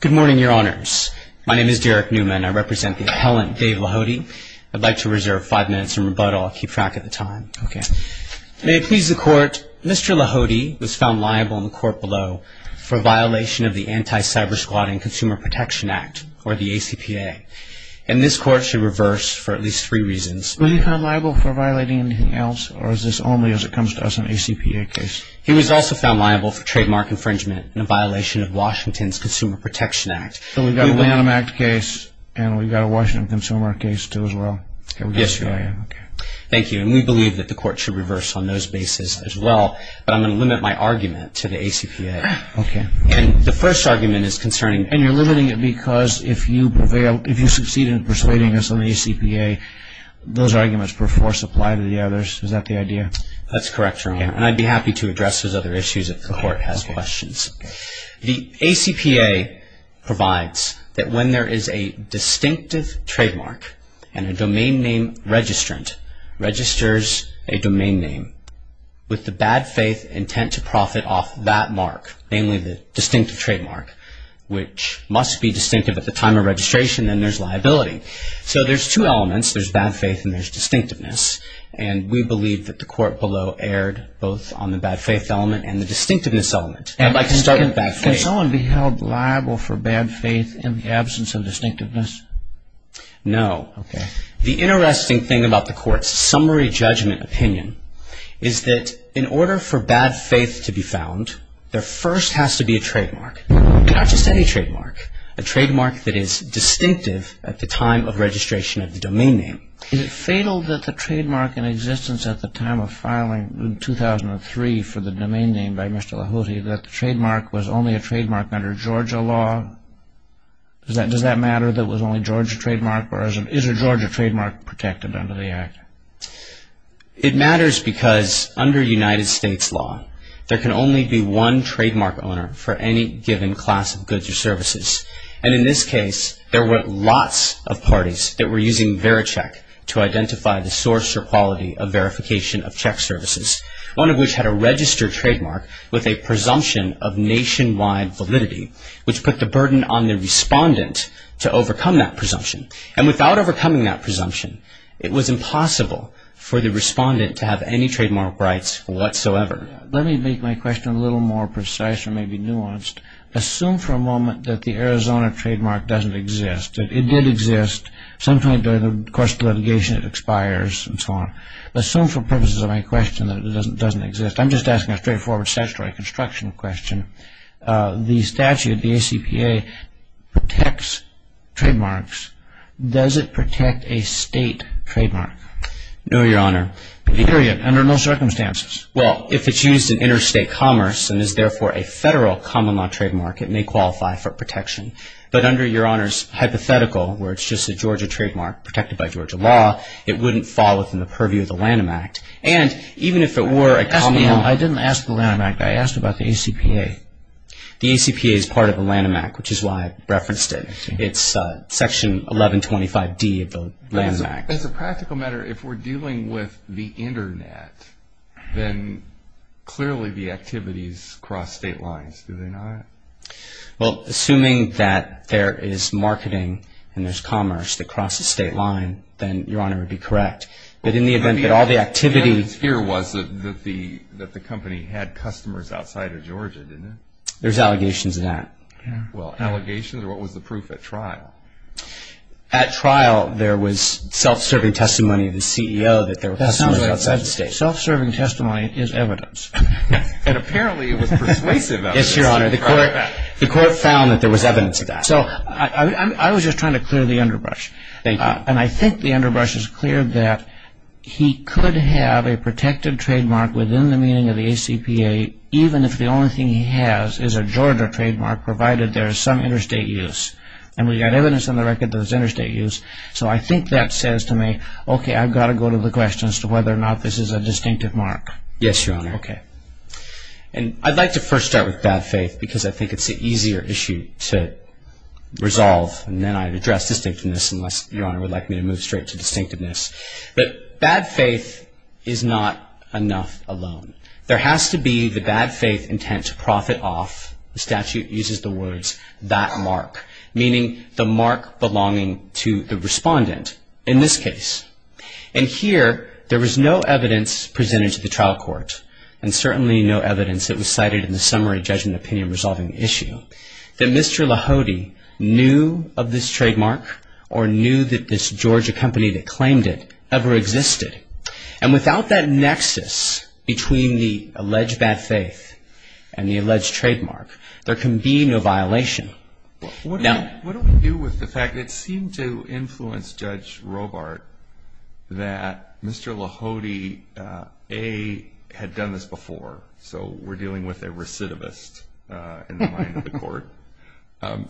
Good morning, your honors. My name is Derek Newman. I represent the appellant Dave Lahode. I'd like to reserve five minutes in rebuttal. I'll keep track of the time. Okay. May it please the court, Mr. Lahode was found liable in the court below for violation of the Anti-Cybersquatting Consumer Protection Act, or the ACPA, and this court should reverse for at least three reasons. Was he found liable for violating anything else, or is this only as it comes to us in an ACPA case? He was also found liable for trademark infringement in a violation of Washington's Consumer Protection Act. So we've got a Lanham Act case, and we've got a Washington Consumer Act case, too, as well? Yes, your honor. Okay. Thank you, and we believe that the court should reverse on those basis as well, but I'm going to limit my argument to the ACPA. Okay. And the first argument is concerning... And you're limiting it because if you succeed in persuading us on the ACPA, those arguments, per force, apply to the others. Is that the idea? That's correct, your honor, and I'd be happy to address those other issues if the court has questions. Okay. The ACPA provides that when there is a distinctive trademark and a domain name registrant registers a domain name with the bad faith intent to profit off that mark, namely the distinctive trademark, which must be distinctive at the time of registration, then there's liability. So there's two elements. There's bad faith and there's distinctiveness, and we believe that the court below erred both on the bad faith element and the distinctiveness element. I'd like to start with bad faith. Can someone be held liable for bad faith in the absence of distinctiveness? No. Okay. The interesting thing about the court's summary judgment opinion is that in order for bad faith to be found, there first has to be a trademark. Not just any trademark. A trademark that is distinctive at the time of registration of the domain name. Is it fatal that the trademark in existence at the time of filing in 2003 for the domain name by Mr. Lahouty, that the trademark was only a trademark under Georgia law? Does that matter that it was only a Georgia trademark, or is a Georgia trademark protected under the act? It matters because under United States law, there can only be one trademark owner for any given class of goods or services. And in this case, there were lots of parties that were using VeriCheck to identify the source or quality of verification of check services, one of which had a registered trademark with a presumption of nationwide validity, which put the burden on the respondent to overcome that presumption. And without overcoming that presumption, it was impossible for the respondent to have any trademark rights whatsoever. Let me make my question a little more precise or maybe nuanced. Assume for a moment that the Arizona trademark doesn't exist. It did exist. Sometime during the course of litigation, it expires and so on. Assume for purposes of my question that it doesn't exist. I'm just asking a straightforward statutory construction question. The statute, the ACPA, protects trademarks. Does it protect a state trademark? No, Your Honor. Period. Under no circumstances. Well, if it's used in interstate commerce and is therefore a federal common law trademark, it may qualify for protection. But under Your Honor's hypothetical, where it's just a Georgia trademark protected by Georgia law, it wouldn't fall within the purview of the Lanham Act. And even if it were a common law. I didn't ask the Lanham Act. I asked about the ACPA. The ACPA is part of the Lanham Act, which is why I referenced it. It's Section 1125D of the Lanham Act. As a practical matter, if we're dealing with the Internet, then clearly the activities cross state lines, do they not? Well, assuming that there is marketing and there's commerce that crosses state line, then Your Honor would be correct. But in the event that all the activity. The evidence here was that the company had customers outside of Georgia, didn't it? There's allegations of that. Well, allegations or what was the proof at trial? At trial, there was self-serving testimony of the CEO that there were customers outside the state. Self-serving testimony is evidence. And apparently it was persuasive evidence. Yes, Your Honor. The court found that there was evidence of that. So I was just trying to clear the underbrush. Thank you. And I think the underbrush is clear that he could have a protected trademark within the meaning of the ACPA, even if the only thing he has is a Georgia trademark, provided there is some interstate use. And we've got evidence on the record that it's interstate use. So I think that says to me, okay, I've got to go to the question as to whether or not this is a distinctive mark. Yes, Your Honor. Okay. And I'd like to first start with bad faith because I think it's an easier issue to resolve. And then I'd address distinctiveness unless Your Honor would like me to move straight to distinctiveness. But bad faith is not enough alone. There has to be the bad faith intent to profit off, the statute uses the words, that mark, meaning the mark belonging to the respondent in this case. And here, there was no evidence presented to the trial court, and certainly no evidence that was cited in the summary judgment opinion resolving issue, that Mr. Lahode knew of this trademark or knew that this Georgia company that claimed it ever existed. And without that nexus between the alleged bad faith and the alleged trademark, there can be no violation. What do we do with the fact that it seemed to influence Judge Robart that Mr. Lahode, A, had done this before? So we're dealing with a recidivist in the mind of the court.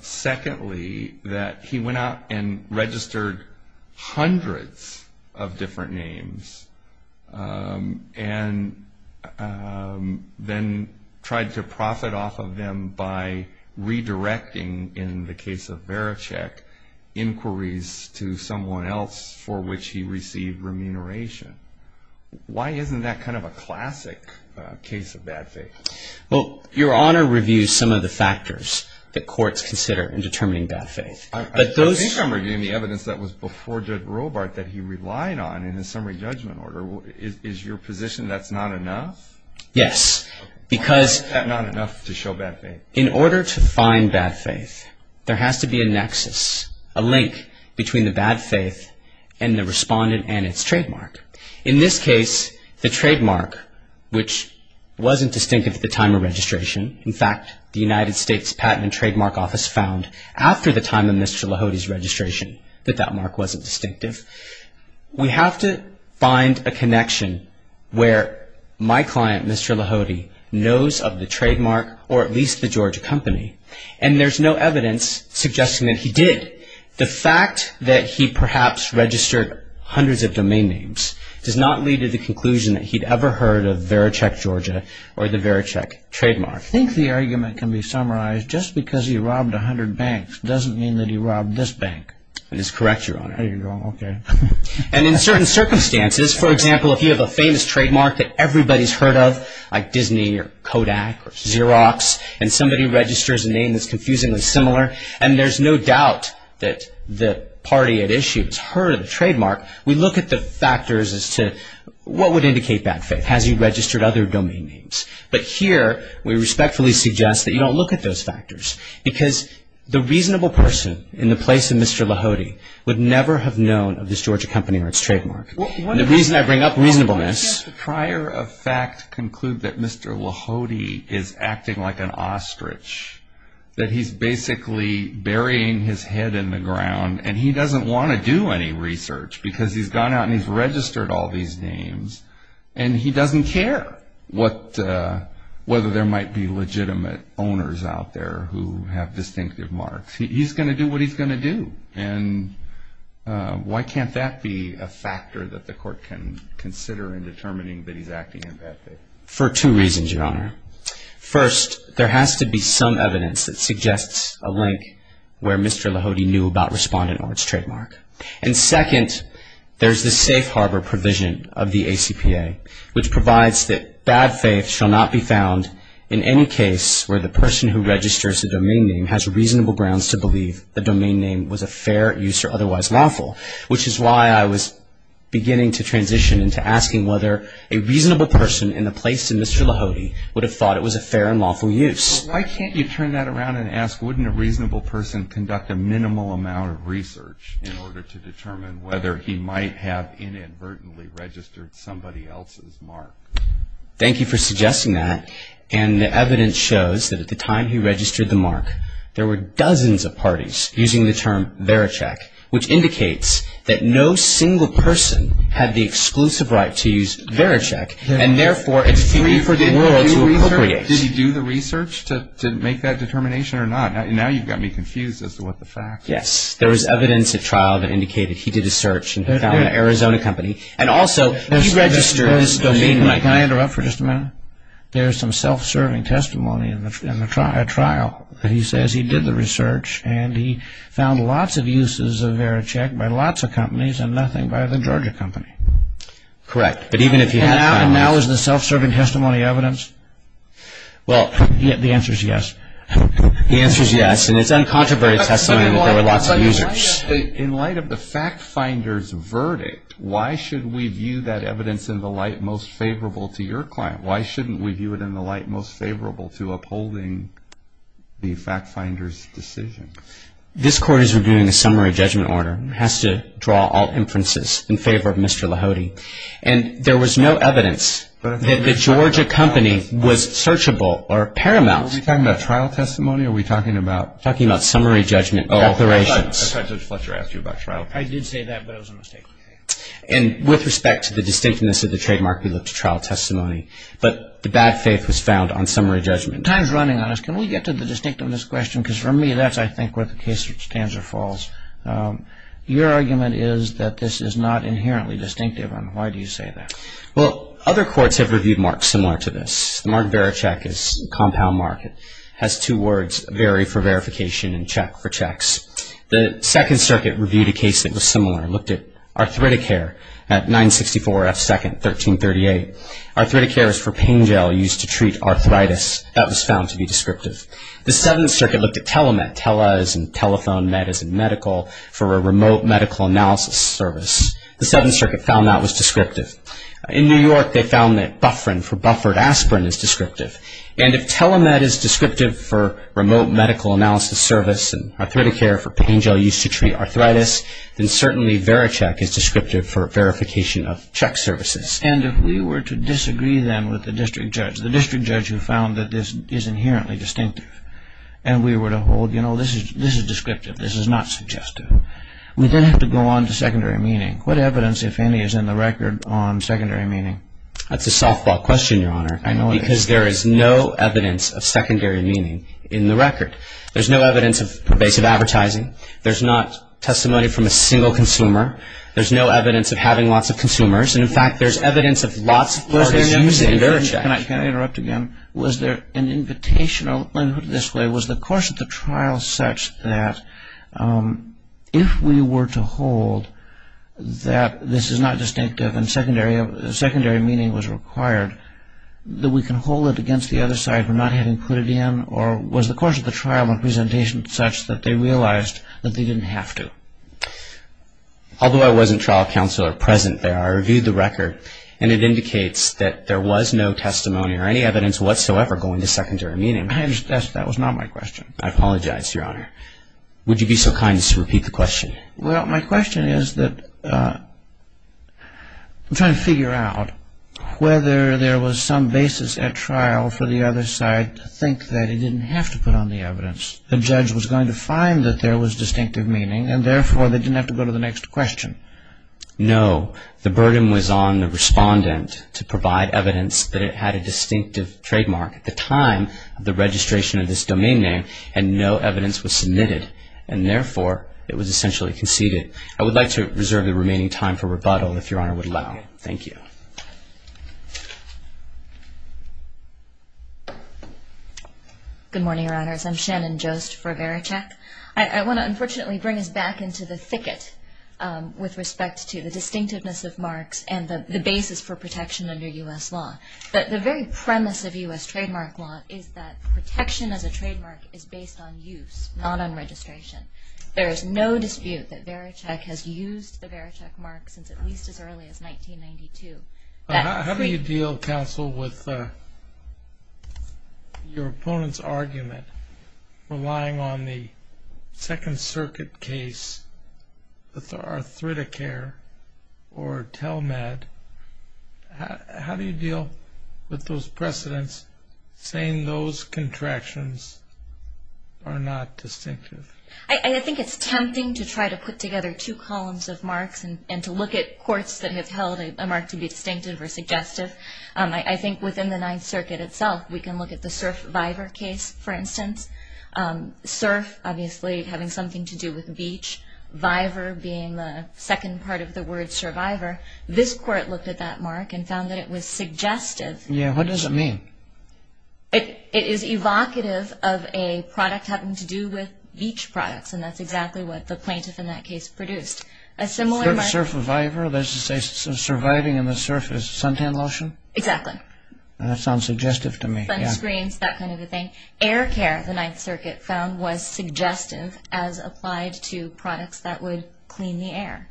Secondly, that he went out and registered hundreds of different names and then tried to profit off of them by redirecting, in the case of Varachek, inquiries to someone else for which he received remuneration. Why isn't that kind of a classic case of bad faith? Well, Your Honor reviews some of the factors that courts consider in determining bad faith. I think I'm reviewing the evidence that was before Judge Robart that he relied on in his summary judgment order. Is your position that's not enough? Yes. Why is that not enough to show bad faith? In order to find bad faith, there has to be a nexus, a link between the bad faith and the respondent and its trademark. In this case, the trademark, which wasn't distinctive at the time of registration, in fact, the United States Patent and Trademark Office found after the time of Mr. Lahode's registration that that mark wasn't distinctive. We have to find a connection where my client, Mr. Lahode, knows of the trademark, or at least the Georgia company, and there's no evidence suggesting that he did. The fact that he perhaps registered hundreds of domain names does not lead to the conclusion that he'd ever heard of Varachek Georgia or the Varachek trademark. I think the argument can be summarized, just because he robbed 100 banks doesn't mean that he robbed this bank. That is correct, Your Honor. And in certain circumstances, for example, if you have a famous trademark that everybody's heard of, like Disney or Kodak or Xerox, and somebody registers a name that's confusingly similar, and there's no doubt that the party at issue has heard of the trademark, we look at the factors as to what would indicate bad faith. Has he registered other domain names? But here, we respectfully suggest that you don't look at those factors, because the reasonable person in the place of Mr. Lahode would never have known of this Georgia company or its trademark. And the reason I bring up reasonableness... Why don't you have the prior of fact conclude that Mr. Lahode is acting like an ostrich, that he's basically burying his head in the ground, and he doesn't want to do any research, because he's gone out and he's registered all these names, and he doesn't care whether there might be legitimate owners out there who have distinctive marks. He's going to do what he's going to do. And why can't that be a factor that the court can consider in determining that he's acting in bad faith? For two reasons, Your Honor. First, there has to be some evidence that suggests a link where Mr. Lahode knew about Respondent Ord's trademark. And second, there's the safe harbor provision of the ACPA, which provides that bad faith shall not be found in any case where the person who registers a domain name has reasonable grounds to believe the domain name was a fair use or otherwise lawful, which is why I was beginning to transition into asking whether a reasonable person in the place of Mr. Lahode would have thought it was a fair and lawful use. But why can't you turn that around and ask, wouldn't a reasonable person conduct a minimal amount of research in order to determine whether he might have inadvertently registered somebody else's mark? Thank you for suggesting that. And the evidence shows that at the time he registered the mark, there were dozens of parties using the term VeriCheck, which indicates that no single person had the exclusive right to use VeriCheck, and therefore it's free for the world to appropriate. Did he do the research to make that determination or not? Now you've got me confused as to what the facts are. Yes. There was evidence at trial that indicated he did a search and found an Arizona company. And also, he registered this domain name. Can I interrupt for just a minute? There's some self-serving testimony in a trial that he says he did the research and he found lots of uses of VeriCheck by lots of companies and nothing by the Georgia company. Correct. And now is the self-serving testimony evidence? Well, the answer is yes. The answer is yes. And it's uncontroverted testimony that there were lots of users. In light of the fact finder's verdict, why should we view that evidence in the light most favorable to your client? Why shouldn't we view it in the light most favorable to upholding the fact finder's decision? This Court is reviewing a summary judgment order. It has to draw all inferences in favor of Mr. Lahody. And there was no evidence that the Georgia company was searchable or paramount. Are we talking about trial testimony? Are we talking about summary judgment declarations? I thought Judge Fletcher asked you about trial testimony. I did say that, but it was a mistake. And with respect to the distinctness of the trademark, we looked at trial testimony. But the bad faith was found on summary judgment. Time's running on us. Can we get to the distinctiveness question? Because for me, that's, I think, where the case stands or falls. Your argument is that this is not inherently distinctive. And why do you say that? Well, other courts have reviewed marks similar to this. The Mark Barachek is a compound mark. It has two words, vary for verification and check for checks. The Second Circuit reviewed a case that was similar. It looked at arthritic care at 964 F. Second, 1338. Arthritic care is for pain gel used to treat arthritis. That was found to be descriptive. The Seventh Circuit looked at telemed. Tele is in telephone. Med is in medical for a remote medical analysis service. The Seventh Circuit found that was descriptive. In New York, they found that bufferin for buffered aspirin is descriptive. And if telemed is descriptive for remote medical analysis service and arthritic care for pain gel used to treat arthritis, then certainly varicheck is descriptive for verification of check services. And if we were to disagree then with the district judge, the district judge who found that this is inherently distinctive, and we were to hold, you know, this is descriptive, this is not suggestive, we then have to go on to secondary meaning. What evidence, if any, is in the record on secondary meaning? That's a softball question, Your Honor. I know it is. Because there is no evidence of secondary meaning in the record. There's no evidence of pervasive advertising. There's not testimony from a single consumer. There's no evidence of having lots of consumers. And, in fact, there's evidence of lots of parties using varicheck. Can I interrupt again? Was there an invitation, or let me put it this way, was the course of the trial such that if we were to hold that this is not distinctive and secondary meaning was required, that we can hold it against the other side for not having put it in? Or was the course of the trial and presentation such that they realized that they didn't have to? Although I wasn't trial counselor present there, I reviewed the record, and it indicates that there was no testimony or any evidence whatsoever going to secondary meaning. That was not my question. I apologize, Your Honor. Would you be so kind as to repeat the question? Well, my question is that I'm trying to figure out whether there was some basis at trial for the other side to think that it didn't have to put on the evidence. The judge was going to find that there was distinctive meaning, and, therefore, they didn't have to go to the next question. No, the burden was on the respondent to provide evidence that it had a distinctive trademark. At the time of the registration of this domain name, no evidence was submitted, and, therefore, it was essentially conceded. I would like to reserve the remaining time for rebuttal, if Your Honor would allow. Thank you. Good morning, Your Honors. I'm Shannon Jost for Vericheck. I want to, unfortunately, bring us back into the thicket with respect to the distinctiveness of marks and the basis for protection under U.S. law. The very premise of U.S. trademark law is that protection as a trademark is based on use, not on registration. There is no dispute that Vericheck has used the Vericheck mark since at least as early as 1992. How do you deal, counsel, with your opponent's argument, relying on the Second Circuit case with Arthriticare or Telmed? How do you deal with those precedents saying those contractions are not distinctive? I think it's tempting to try to put together two columns of marks and to look at courts that have held a mark to be distinctive or suggestive. I think within the Ninth Circuit itself, we can look at the Cerf-Viver case, for instance. Cerf, obviously, having something to do with beach. Viver being the second part of the word survivor. This court looked at that mark and found that it was suggestive. Yeah, what does it mean? It is evocative of a product having to do with beach products, and that's exactly what the plaintiff in that case produced. A similar mark... Cerf-Viver, that's to say surviving in the surface, suntan lotion? Exactly. That sounds suggestive to me. Sunscreens, that kind of a thing. Air care, the Ninth Circuit found, was suggestive as applied to products that would clean the air.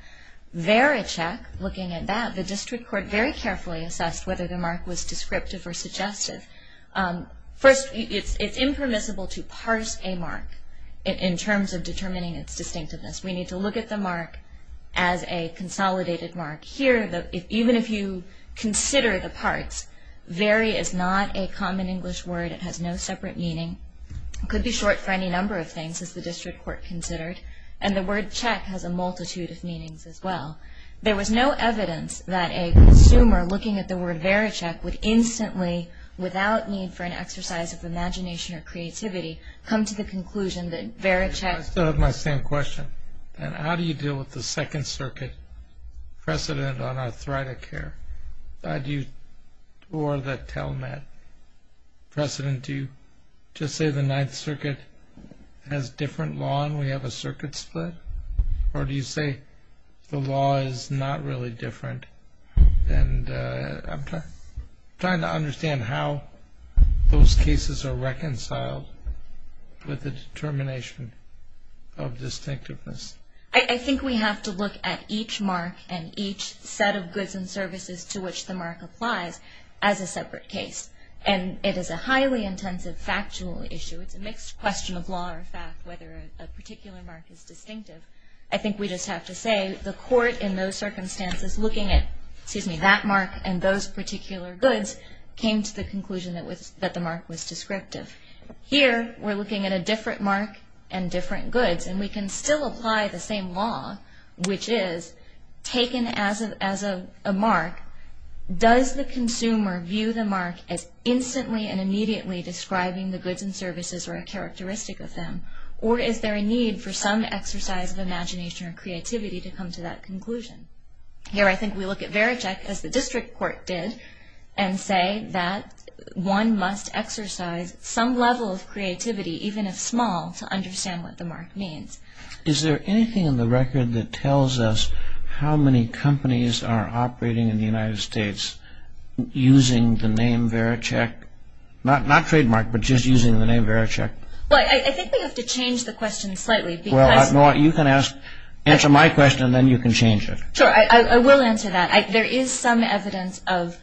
Vericheck, looking at that, the district court very carefully assessed whether the mark was descriptive or suggestive. First, it's impermissible to parse a mark in terms of determining its distinctiveness. We need to look at the mark as a consolidated mark. Here, even if you consider the parts, veri is not a common English word. It has no separate meaning. It could be short for any number of things, as the district court considered, and the word check has a multitude of meanings as well. There was no evidence that a consumer looking at the word vericheck would instantly, without need for an exercise of imagination or creativity, come to the conclusion that vericheck... I still have my same question. How do you deal with the Second Circuit precedent on arthritic care? Or the telemed precedent? Do you just say the Ninth Circuit has different law and we have a circuit split? Or do you say the law is not really different? And I'm trying to understand how those cases are reconciled with the determination of distinctiveness. I think we have to look at each mark and each set of goods and services to which the mark applies as a separate case. And it is a highly intensive factual issue. It's a mixed question of law or fact, whether a particular mark is distinctive. I think we just have to say the court, in those circumstances, looking at that mark and those particular goods, came to the conclusion that the mark was descriptive. Here, we're looking at a different mark and different goods, and we can still apply the same law, which is, taken as a mark, does the consumer view the mark as instantly and immediately describing the goods and services or a characteristic of them? Or is there a need for some exercise of imagination or creativity to come to that conclusion? Here, I think we look at Vericheck, as the district court did, and say that one must exercise some level of creativity, even if small, to understand what the mark means. Is there anything in the record that tells us how many companies are operating in the United States using the name Vericheck? Not trademark, but just using the name Vericheck? I think we have to change the question slightly. You can answer my question, and then you can change it. Sure, I will answer that. There is some evidence of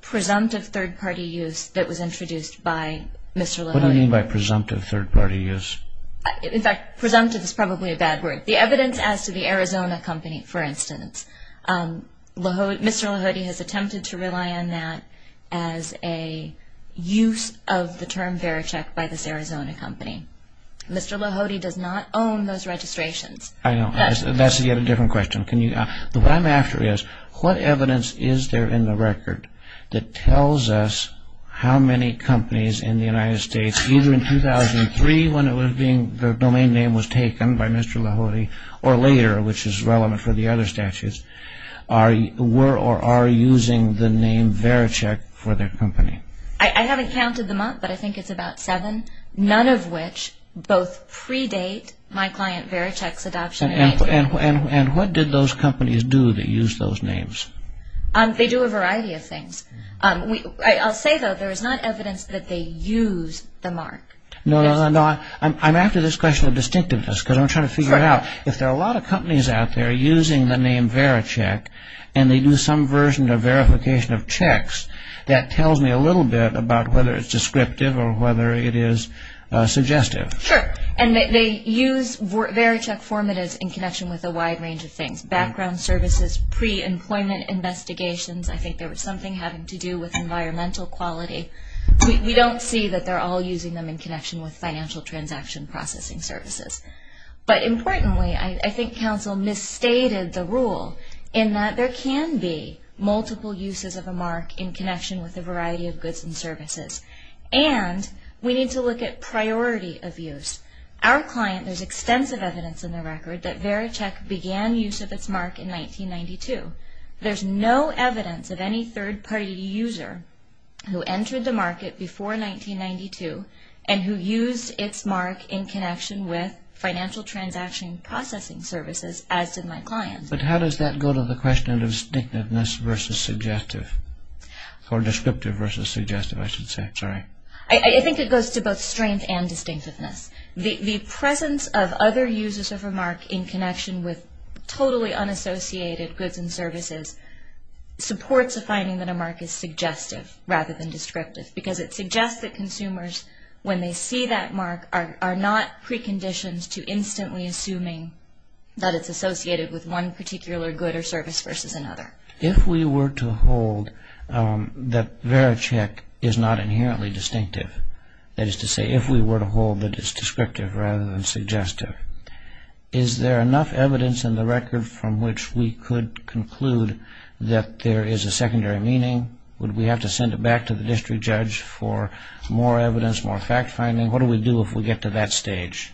presumptive third-party use that was introduced by Mr. Lahody. What do you mean by presumptive third-party use? In fact, presumptive is probably a bad word. The evidence as to the Arizona company, for instance, Mr. Lahody has attempted to rely on that as a use of the term Vericheck by this Arizona company. Mr. Lahody does not own those registrations. That's yet a different question. What I'm after is, what evidence is there in the record that tells us how many companies in the United States, either in 2003 when the domain name was taken by Mr. Lahody, or later, which is relevant for the other statutes, were or are using the name Vericheck for their company? I haven't counted them up, but I think it's about seven, none of which both predate my client Vericheck's adoption. And what did those companies do that used those names? They do a variety of things. I'll say, though, there is not evidence that they used the mark. No, no, no. I'm after this question of distinctiveness, because I'm trying to figure out, if there are a lot of companies out there using the name Vericheck and they do some version of verification of checks, that tells me a little bit about whether it's descriptive or whether it is suggestive. Sure, and they use Vericheck formatives in connection with a wide range of things, background services, pre-employment investigations. I think there was something having to do with environmental quality. We don't see that they're all using them in connection with financial transaction processing services. But importantly, I think counsel misstated the rule in that there can be multiple uses of a mark in connection with a variety of goods and services. And we need to look at priority of use. Our client, there's extensive evidence in the record that Vericheck began use of its mark in 1992. There's no evidence of any third-party user who entered the market before 1992 and who used its mark in connection with financial transaction processing services, as did my client. But how does that go to the question of distinctiveness versus suggestive? Or descriptive versus suggestive, I should say. Sorry. I think it goes to both strength and distinctiveness. The presence of other users of a mark in connection with totally unassociated goods and services supports a finding that a mark is suggestive rather than descriptive because it suggests that consumers, when they see that mark, are not preconditioned to instantly assuming that it's associated with one particular good or service versus another. If we were to hold that Vericheck is not inherently distinctive, that is to say, if we were to hold that it's descriptive rather than suggestive, is there enough evidence in the record from which we could conclude that there is a secondary meaning? Would we have to send it back to the district judge for more evidence, more fact-finding? What do we do if we get to that stage?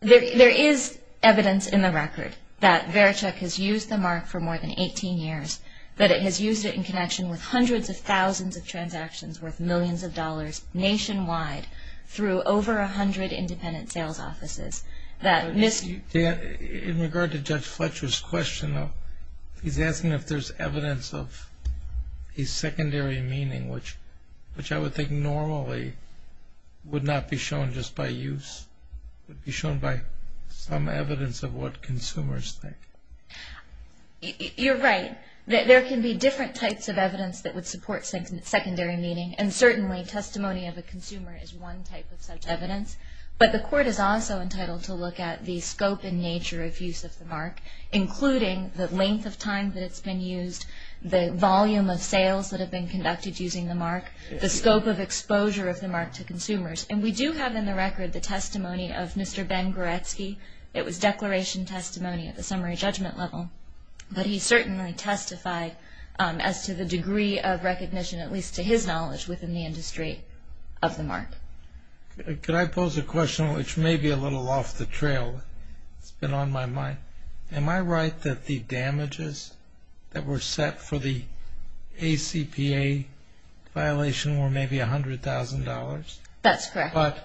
There is evidence in the record that Vericheck has used the mark for more than 18 years, that it has used it in connection with hundreds of thousands of transactions worth millions of dollars nationwide through over 100 independent sales offices. In regard to Judge Fletcher's question, he's asking if there's evidence of a secondary meaning, which I would think normally would not be shown just by use. It would be shown by some evidence of what consumers think. You're right. There can be different types of evidence that would support secondary meaning, and certainly testimony of a consumer is one type of such evidence. But the court is also entitled to look at the scope and nature of use of the mark, including the length of time that it's been used, the volume of sales that have been conducted using the mark, the scope of exposure of the mark to consumers. And we do have in the record the testimony of Mr. Ben Goretsky. It was declaration testimony at the summary judgment level. But he certainly testified as to the degree of recognition, at least to his knowledge, within the industry of the mark. Could I pose a question which may be a little off the trail? It's been on my mind. Am I right that the damages that were set for the ACPA violation were maybe $100,000? That's correct. But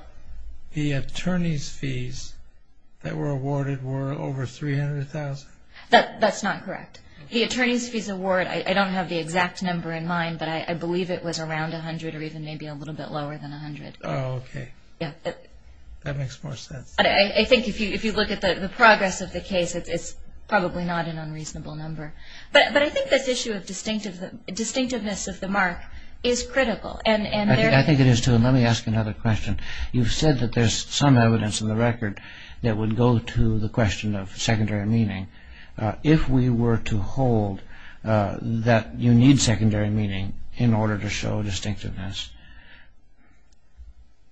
the attorney's fees that were awarded were over $300,000? That's not correct. The attorney's fees award, I don't have the exact number in mind, but I believe it was around $100,000 or even maybe a little bit lower than $100,000. Oh, okay. Yeah. That makes more sense. I think if you look at the progress of the case, it's probably not an unreasonable number. But I think this issue of distinctiveness of the mark is critical. I think it is, too. And let me ask another question. You've said that there's some evidence in the record that would go to the question of secondary meaning. If we were to hold that you need secondary meaning in order to show distinctiveness,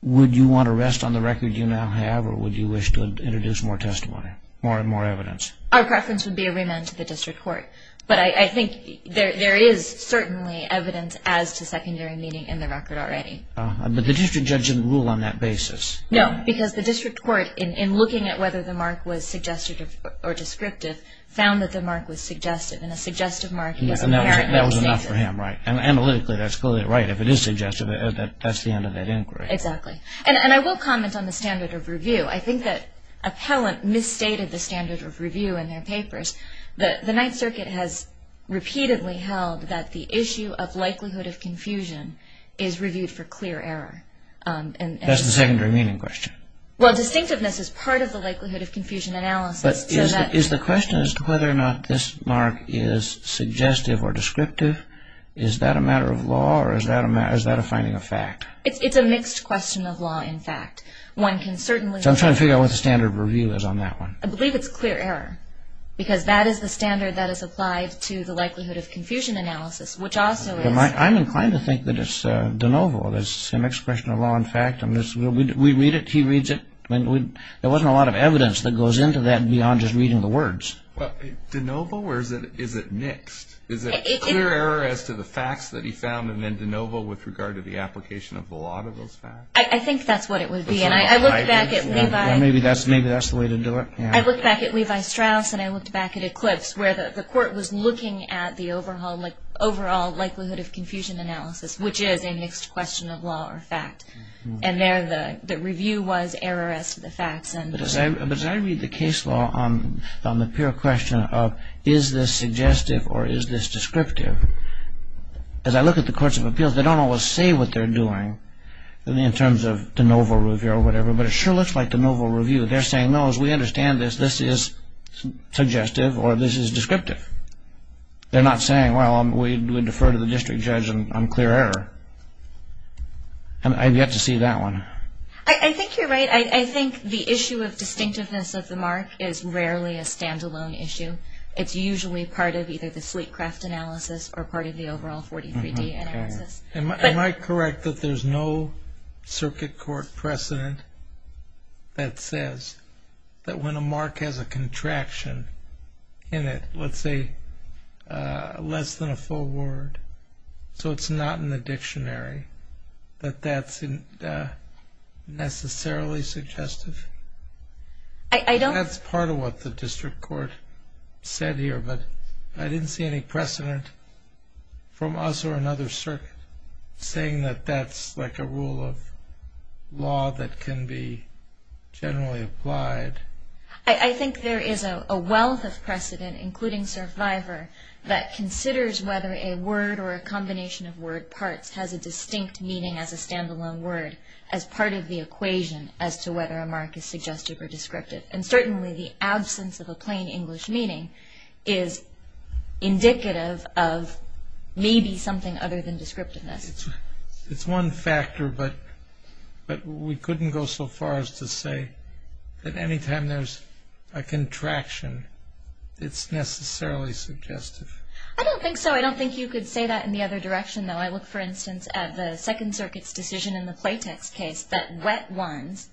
would you want to rest on the record you now have, or would you wish to introduce more testimony, more and more evidence? Our preference would be a remand to the district court. But I think there is certainly evidence as to secondary meaning in the record already. But the district judge didn't rule on that basis. No, because the district court, in looking at whether the mark was suggestive or descriptive, found that the mark was suggestive. And a suggestive mark is an apparent misstatement. And that was enough for him, right. And analytically, that's clearly right. If it is suggestive, that's the end of that inquiry. Exactly. And I will comment on the standard of review. I think that appellant misstated the standard of review in their papers. The Ninth Circuit has repeatedly held that the issue of likelihood of confusion is reviewed for clear error. That's the secondary meaning question. Well, distinctiveness is part of the likelihood of confusion analysis. But is the question as to whether or not this mark is suggestive or descriptive, is that a matter of law or is that a finding of fact? It's a mixed question of law and fact. One can certainly – So I'm trying to figure out what the standard of review is on that one. I believe it's clear error because that is the standard that is applied to the likelihood of confusion analysis, which also is – I'm inclined to think that it's de novo. It's an expression of law and fact. We read it. He reads it. There wasn't a lot of evidence that goes into that beyond just reading the words. Well, de novo or is it mixed? Is it clear error as to the facts that he found and then de novo with regard to the application of the law to those facts? I think that's what it would be. And I looked back at Levi – Maybe that's the way to do it. I looked back at Levi Strauss and I looked back at Eclipse, where the court was looking at the overall likelihood of confusion analysis, which is a mixed question of law or fact. And there the review was error as to the facts. But as I read the case law on the pure question of is this suggestive or is this descriptive, as I look at the courts of appeals, they don't always say what they're doing in terms of de novo review or whatever, but it sure looks like de novo review. They're saying, no, as we understand this, this is suggestive or this is descriptive. They're not saying, well, we defer to the district judge on clear error. I've yet to see that one. I think you're right. I think the issue of distinctiveness of the mark is rarely a standalone issue. It's usually part of either the Fleetcraft analysis or part of the overall 43D analysis. Am I correct that there's no circuit court precedent that says that when a mark has a contraction in it, let's say less than a full word, so it's not in the dictionary, that that's necessarily suggestive? That's part of what the district court said here, but I didn't see any precedent from us or another circuit saying that that's like a rule of law that can be generally applied. I think there is a wealth of precedent, including Survivor, that considers whether a word or a combination of word parts has a distinct meaning as a standalone word, as part of the equation as to whether a mark is suggestive or descriptive, and certainly the absence of a plain English meaning is indicative of maybe something other than descriptiveness. It's one factor, but we couldn't go so far as to say that any time there's a contraction, it's necessarily suggestive. I don't think so. I don't think you could say that in the other direction, though. I look, for instance, at the Second Circuit's decision in the Playtex case that wet ones,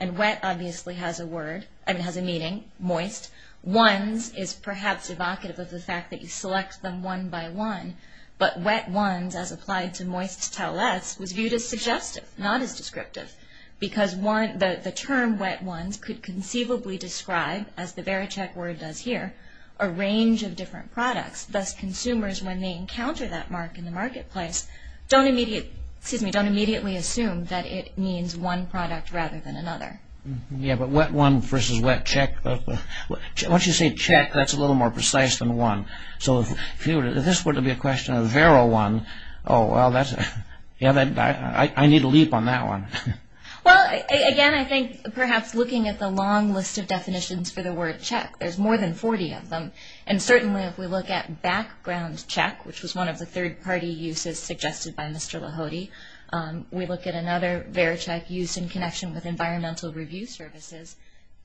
and wet obviously has a meaning, moist, ones is perhaps evocative of the fact that you select them one by one, but wet ones, as applied to moist towelettes, was viewed as suggestive, not as descriptive, because the term wet ones could conceivably describe, as the Vericheck word does here, a range of different products. Thus, consumers, when they encounter that mark in the marketplace, don't immediately assume that it means one product rather than another. Yeah, but wet one versus wet check, once you say check, that's a little more precise than one. So if this were to be a question of Vero one, oh, well, I need a leap on that one. Well, again, I think perhaps looking at the long list of definitions for the word check, there's more than 40 of them, and certainly if we look at background check, which was one of the third-party uses suggested by Mr. Lahody, we look at another Vericheck used in connection with environmental review services,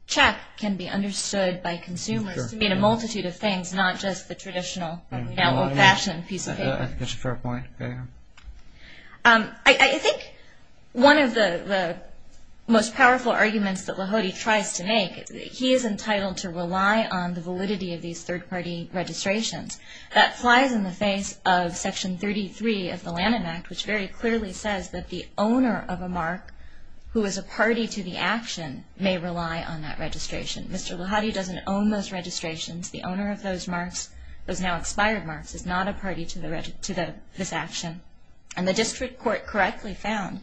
check can be understood by consumers to mean a multitude of things, not just the traditional fashion piece of paper. That's a fair point. I think one of the most powerful arguments that Lahody tries to make, he is entitled to rely on the validity of these third-party registrations. That flies in the face of Section 33 of the Lanham Act, which very clearly says that the owner of a mark who is a party to the action may rely on that registration. Mr. Lahody doesn't own those registrations. The owner of those marks, those now expired marks, is not a party to this action. And the district court correctly found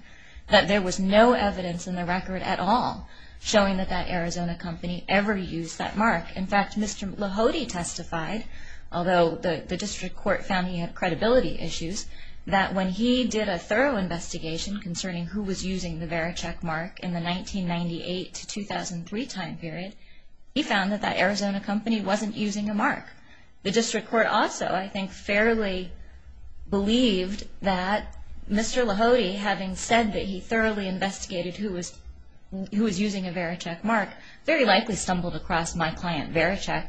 that there was no evidence in the record at all showing that that Arizona company ever used that mark. In fact, Mr. Lahody testified, although the district court found he had credibility issues, that when he did a thorough investigation concerning who was using the Vericheck mark in the 1998-2003 time period, he found that that Arizona company wasn't using a mark. The district court also, I think, fairly believed that Mr. Lahody, having said that he thoroughly investigated who was using a Vericheck mark, very likely stumbled across my client, Vericheck,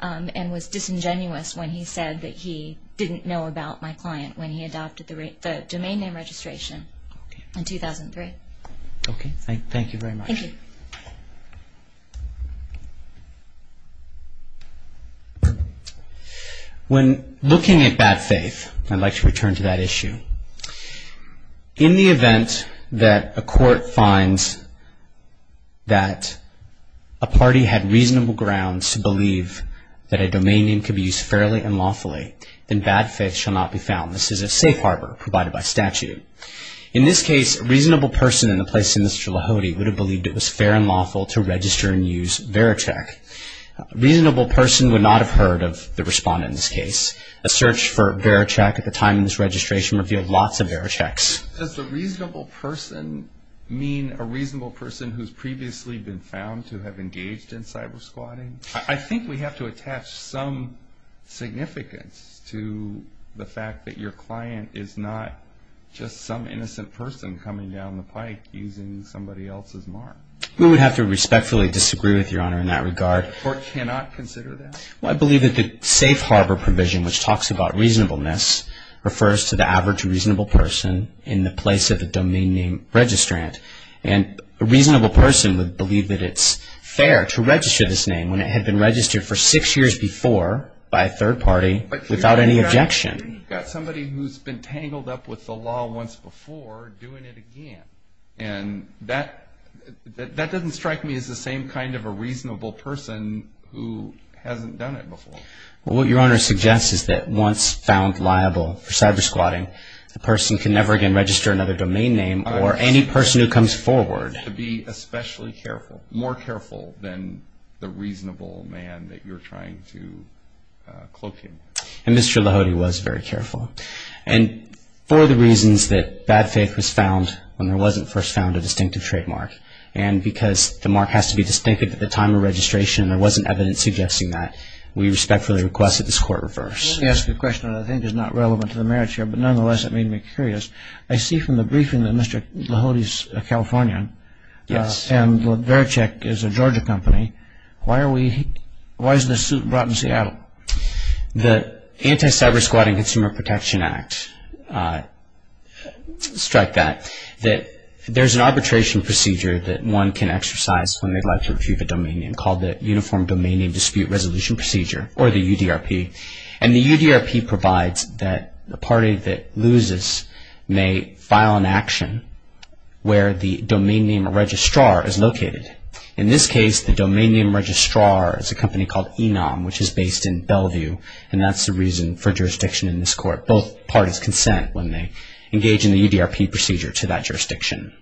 and was disingenuous when he said that he didn't know about my client when he adopted the domain name registration in 2003. Okay. Thank you very much. Thank you. When looking at bad faith, I'd like to return to that issue. In the event that a court finds that a party had reasonable grounds to believe that a domain name could be used fairly and lawfully, then bad faith shall not be found. This is a safe harbor provided by statute. In this case, a reasonable person in the place of Mr. Lahody would have believed it was fair and lawful to register and use Vericheck. A reasonable person would not have heard of the respondent in this case. A search for Vericheck at the time of this registration revealed lots of Verichecks. Does a reasonable person mean a reasonable person who's previously been found to have engaged in cyber squatting? I think we have to attach some significance to the fact that your client is not just some innocent person coming down the pike using somebody else's mark. We would have to respectfully disagree with Your Honor in that regard. The court cannot consider that? I believe that the safe harbor provision, which talks about reasonableness, refers to the average reasonable person in the place of the domain name registrant. A reasonable person would believe that it's fair to register this name when it had been registered for six years before by a third party without any objection. You've got somebody who's been tangled up with the law once before doing it again. That doesn't strike me as the same kind of a reasonable person who hasn't done it before. What Your Honor suggests is that once found liable for cyber squatting, the person can never again register another domain name or any person who comes forward. You have to be especially careful, more careful than the reasonable man that you're trying to cloak him with. And Mr. Lahode was very careful. And for the reasons that bad faith was found when there wasn't first found a distinctive trademark, and because the mark has to be distinctive at the time of registration, there wasn't evidence suggesting that, we respectfully request that this court reverse. Let me ask you a question that I think is not relevant to the merits here, but nonetheless it made me curious. I see from the briefing that Mr. Lahode is a Californian. Yes. And Verichek is a Georgia company. Why is this suit brought in Seattle? The Anti-Cyber Squatting Consumer Protection Act, strike that. There's an arbitration procedure that one can exercise when they'd like to refute a domain name called the Uniform Domain Name Dispute Resolution Procedure, or the UDRP. And the UDRP provides that the party that loses may file an action where the domain name registrar is located. In this case, the domain name registrar is a company called Enom, which is based in Bellevue, and that's the reason for jurisdiction in this court. Both parties consent when they engage in the UDRP procedure to that jurisdiction.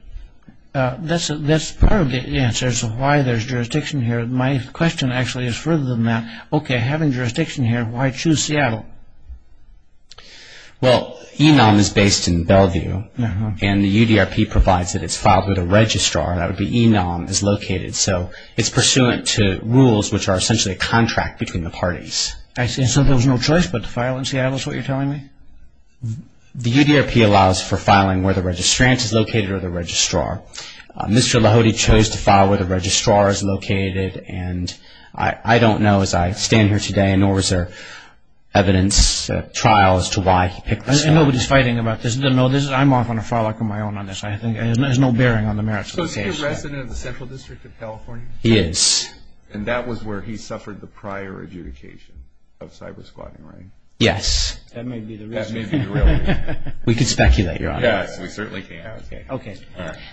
That's part of the answer as to why there's jurisdiction here. My question actually is further than that. Okay, having jurisdiction here, why choose Seattle? Well, Enom is based in Bellevue, and the UDRP provides that it's filed with a registrar, that would be Enom, is located. So it's pursuant to rules which are essentially a contract between the parties. And so there was no choice but to file in Seattle is what you're telling me? The UDRP allows for filing where the registrant is located or the registrar. Mr. Lahode chose to file where the registrar is located, and I don't know as I stand here today, nor is there evidence, trial, as to why he picked this up. Nobody's fighting about this. I'm off on a far luck of my own on this. There's no bearing on the merits of the case. So is he a resident of the Central District of California? He is. And that was where he suffered the prior adjudication of cyber-squatting, right? That may be the real reason. We could speculate, Your Honor. Yes, we certainly can. Okay.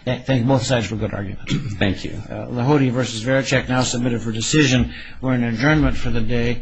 Thank you, both sides, for a good argument. Thank you. Lahode v. Varachek now submitted for decision. We're in adjournment for the day.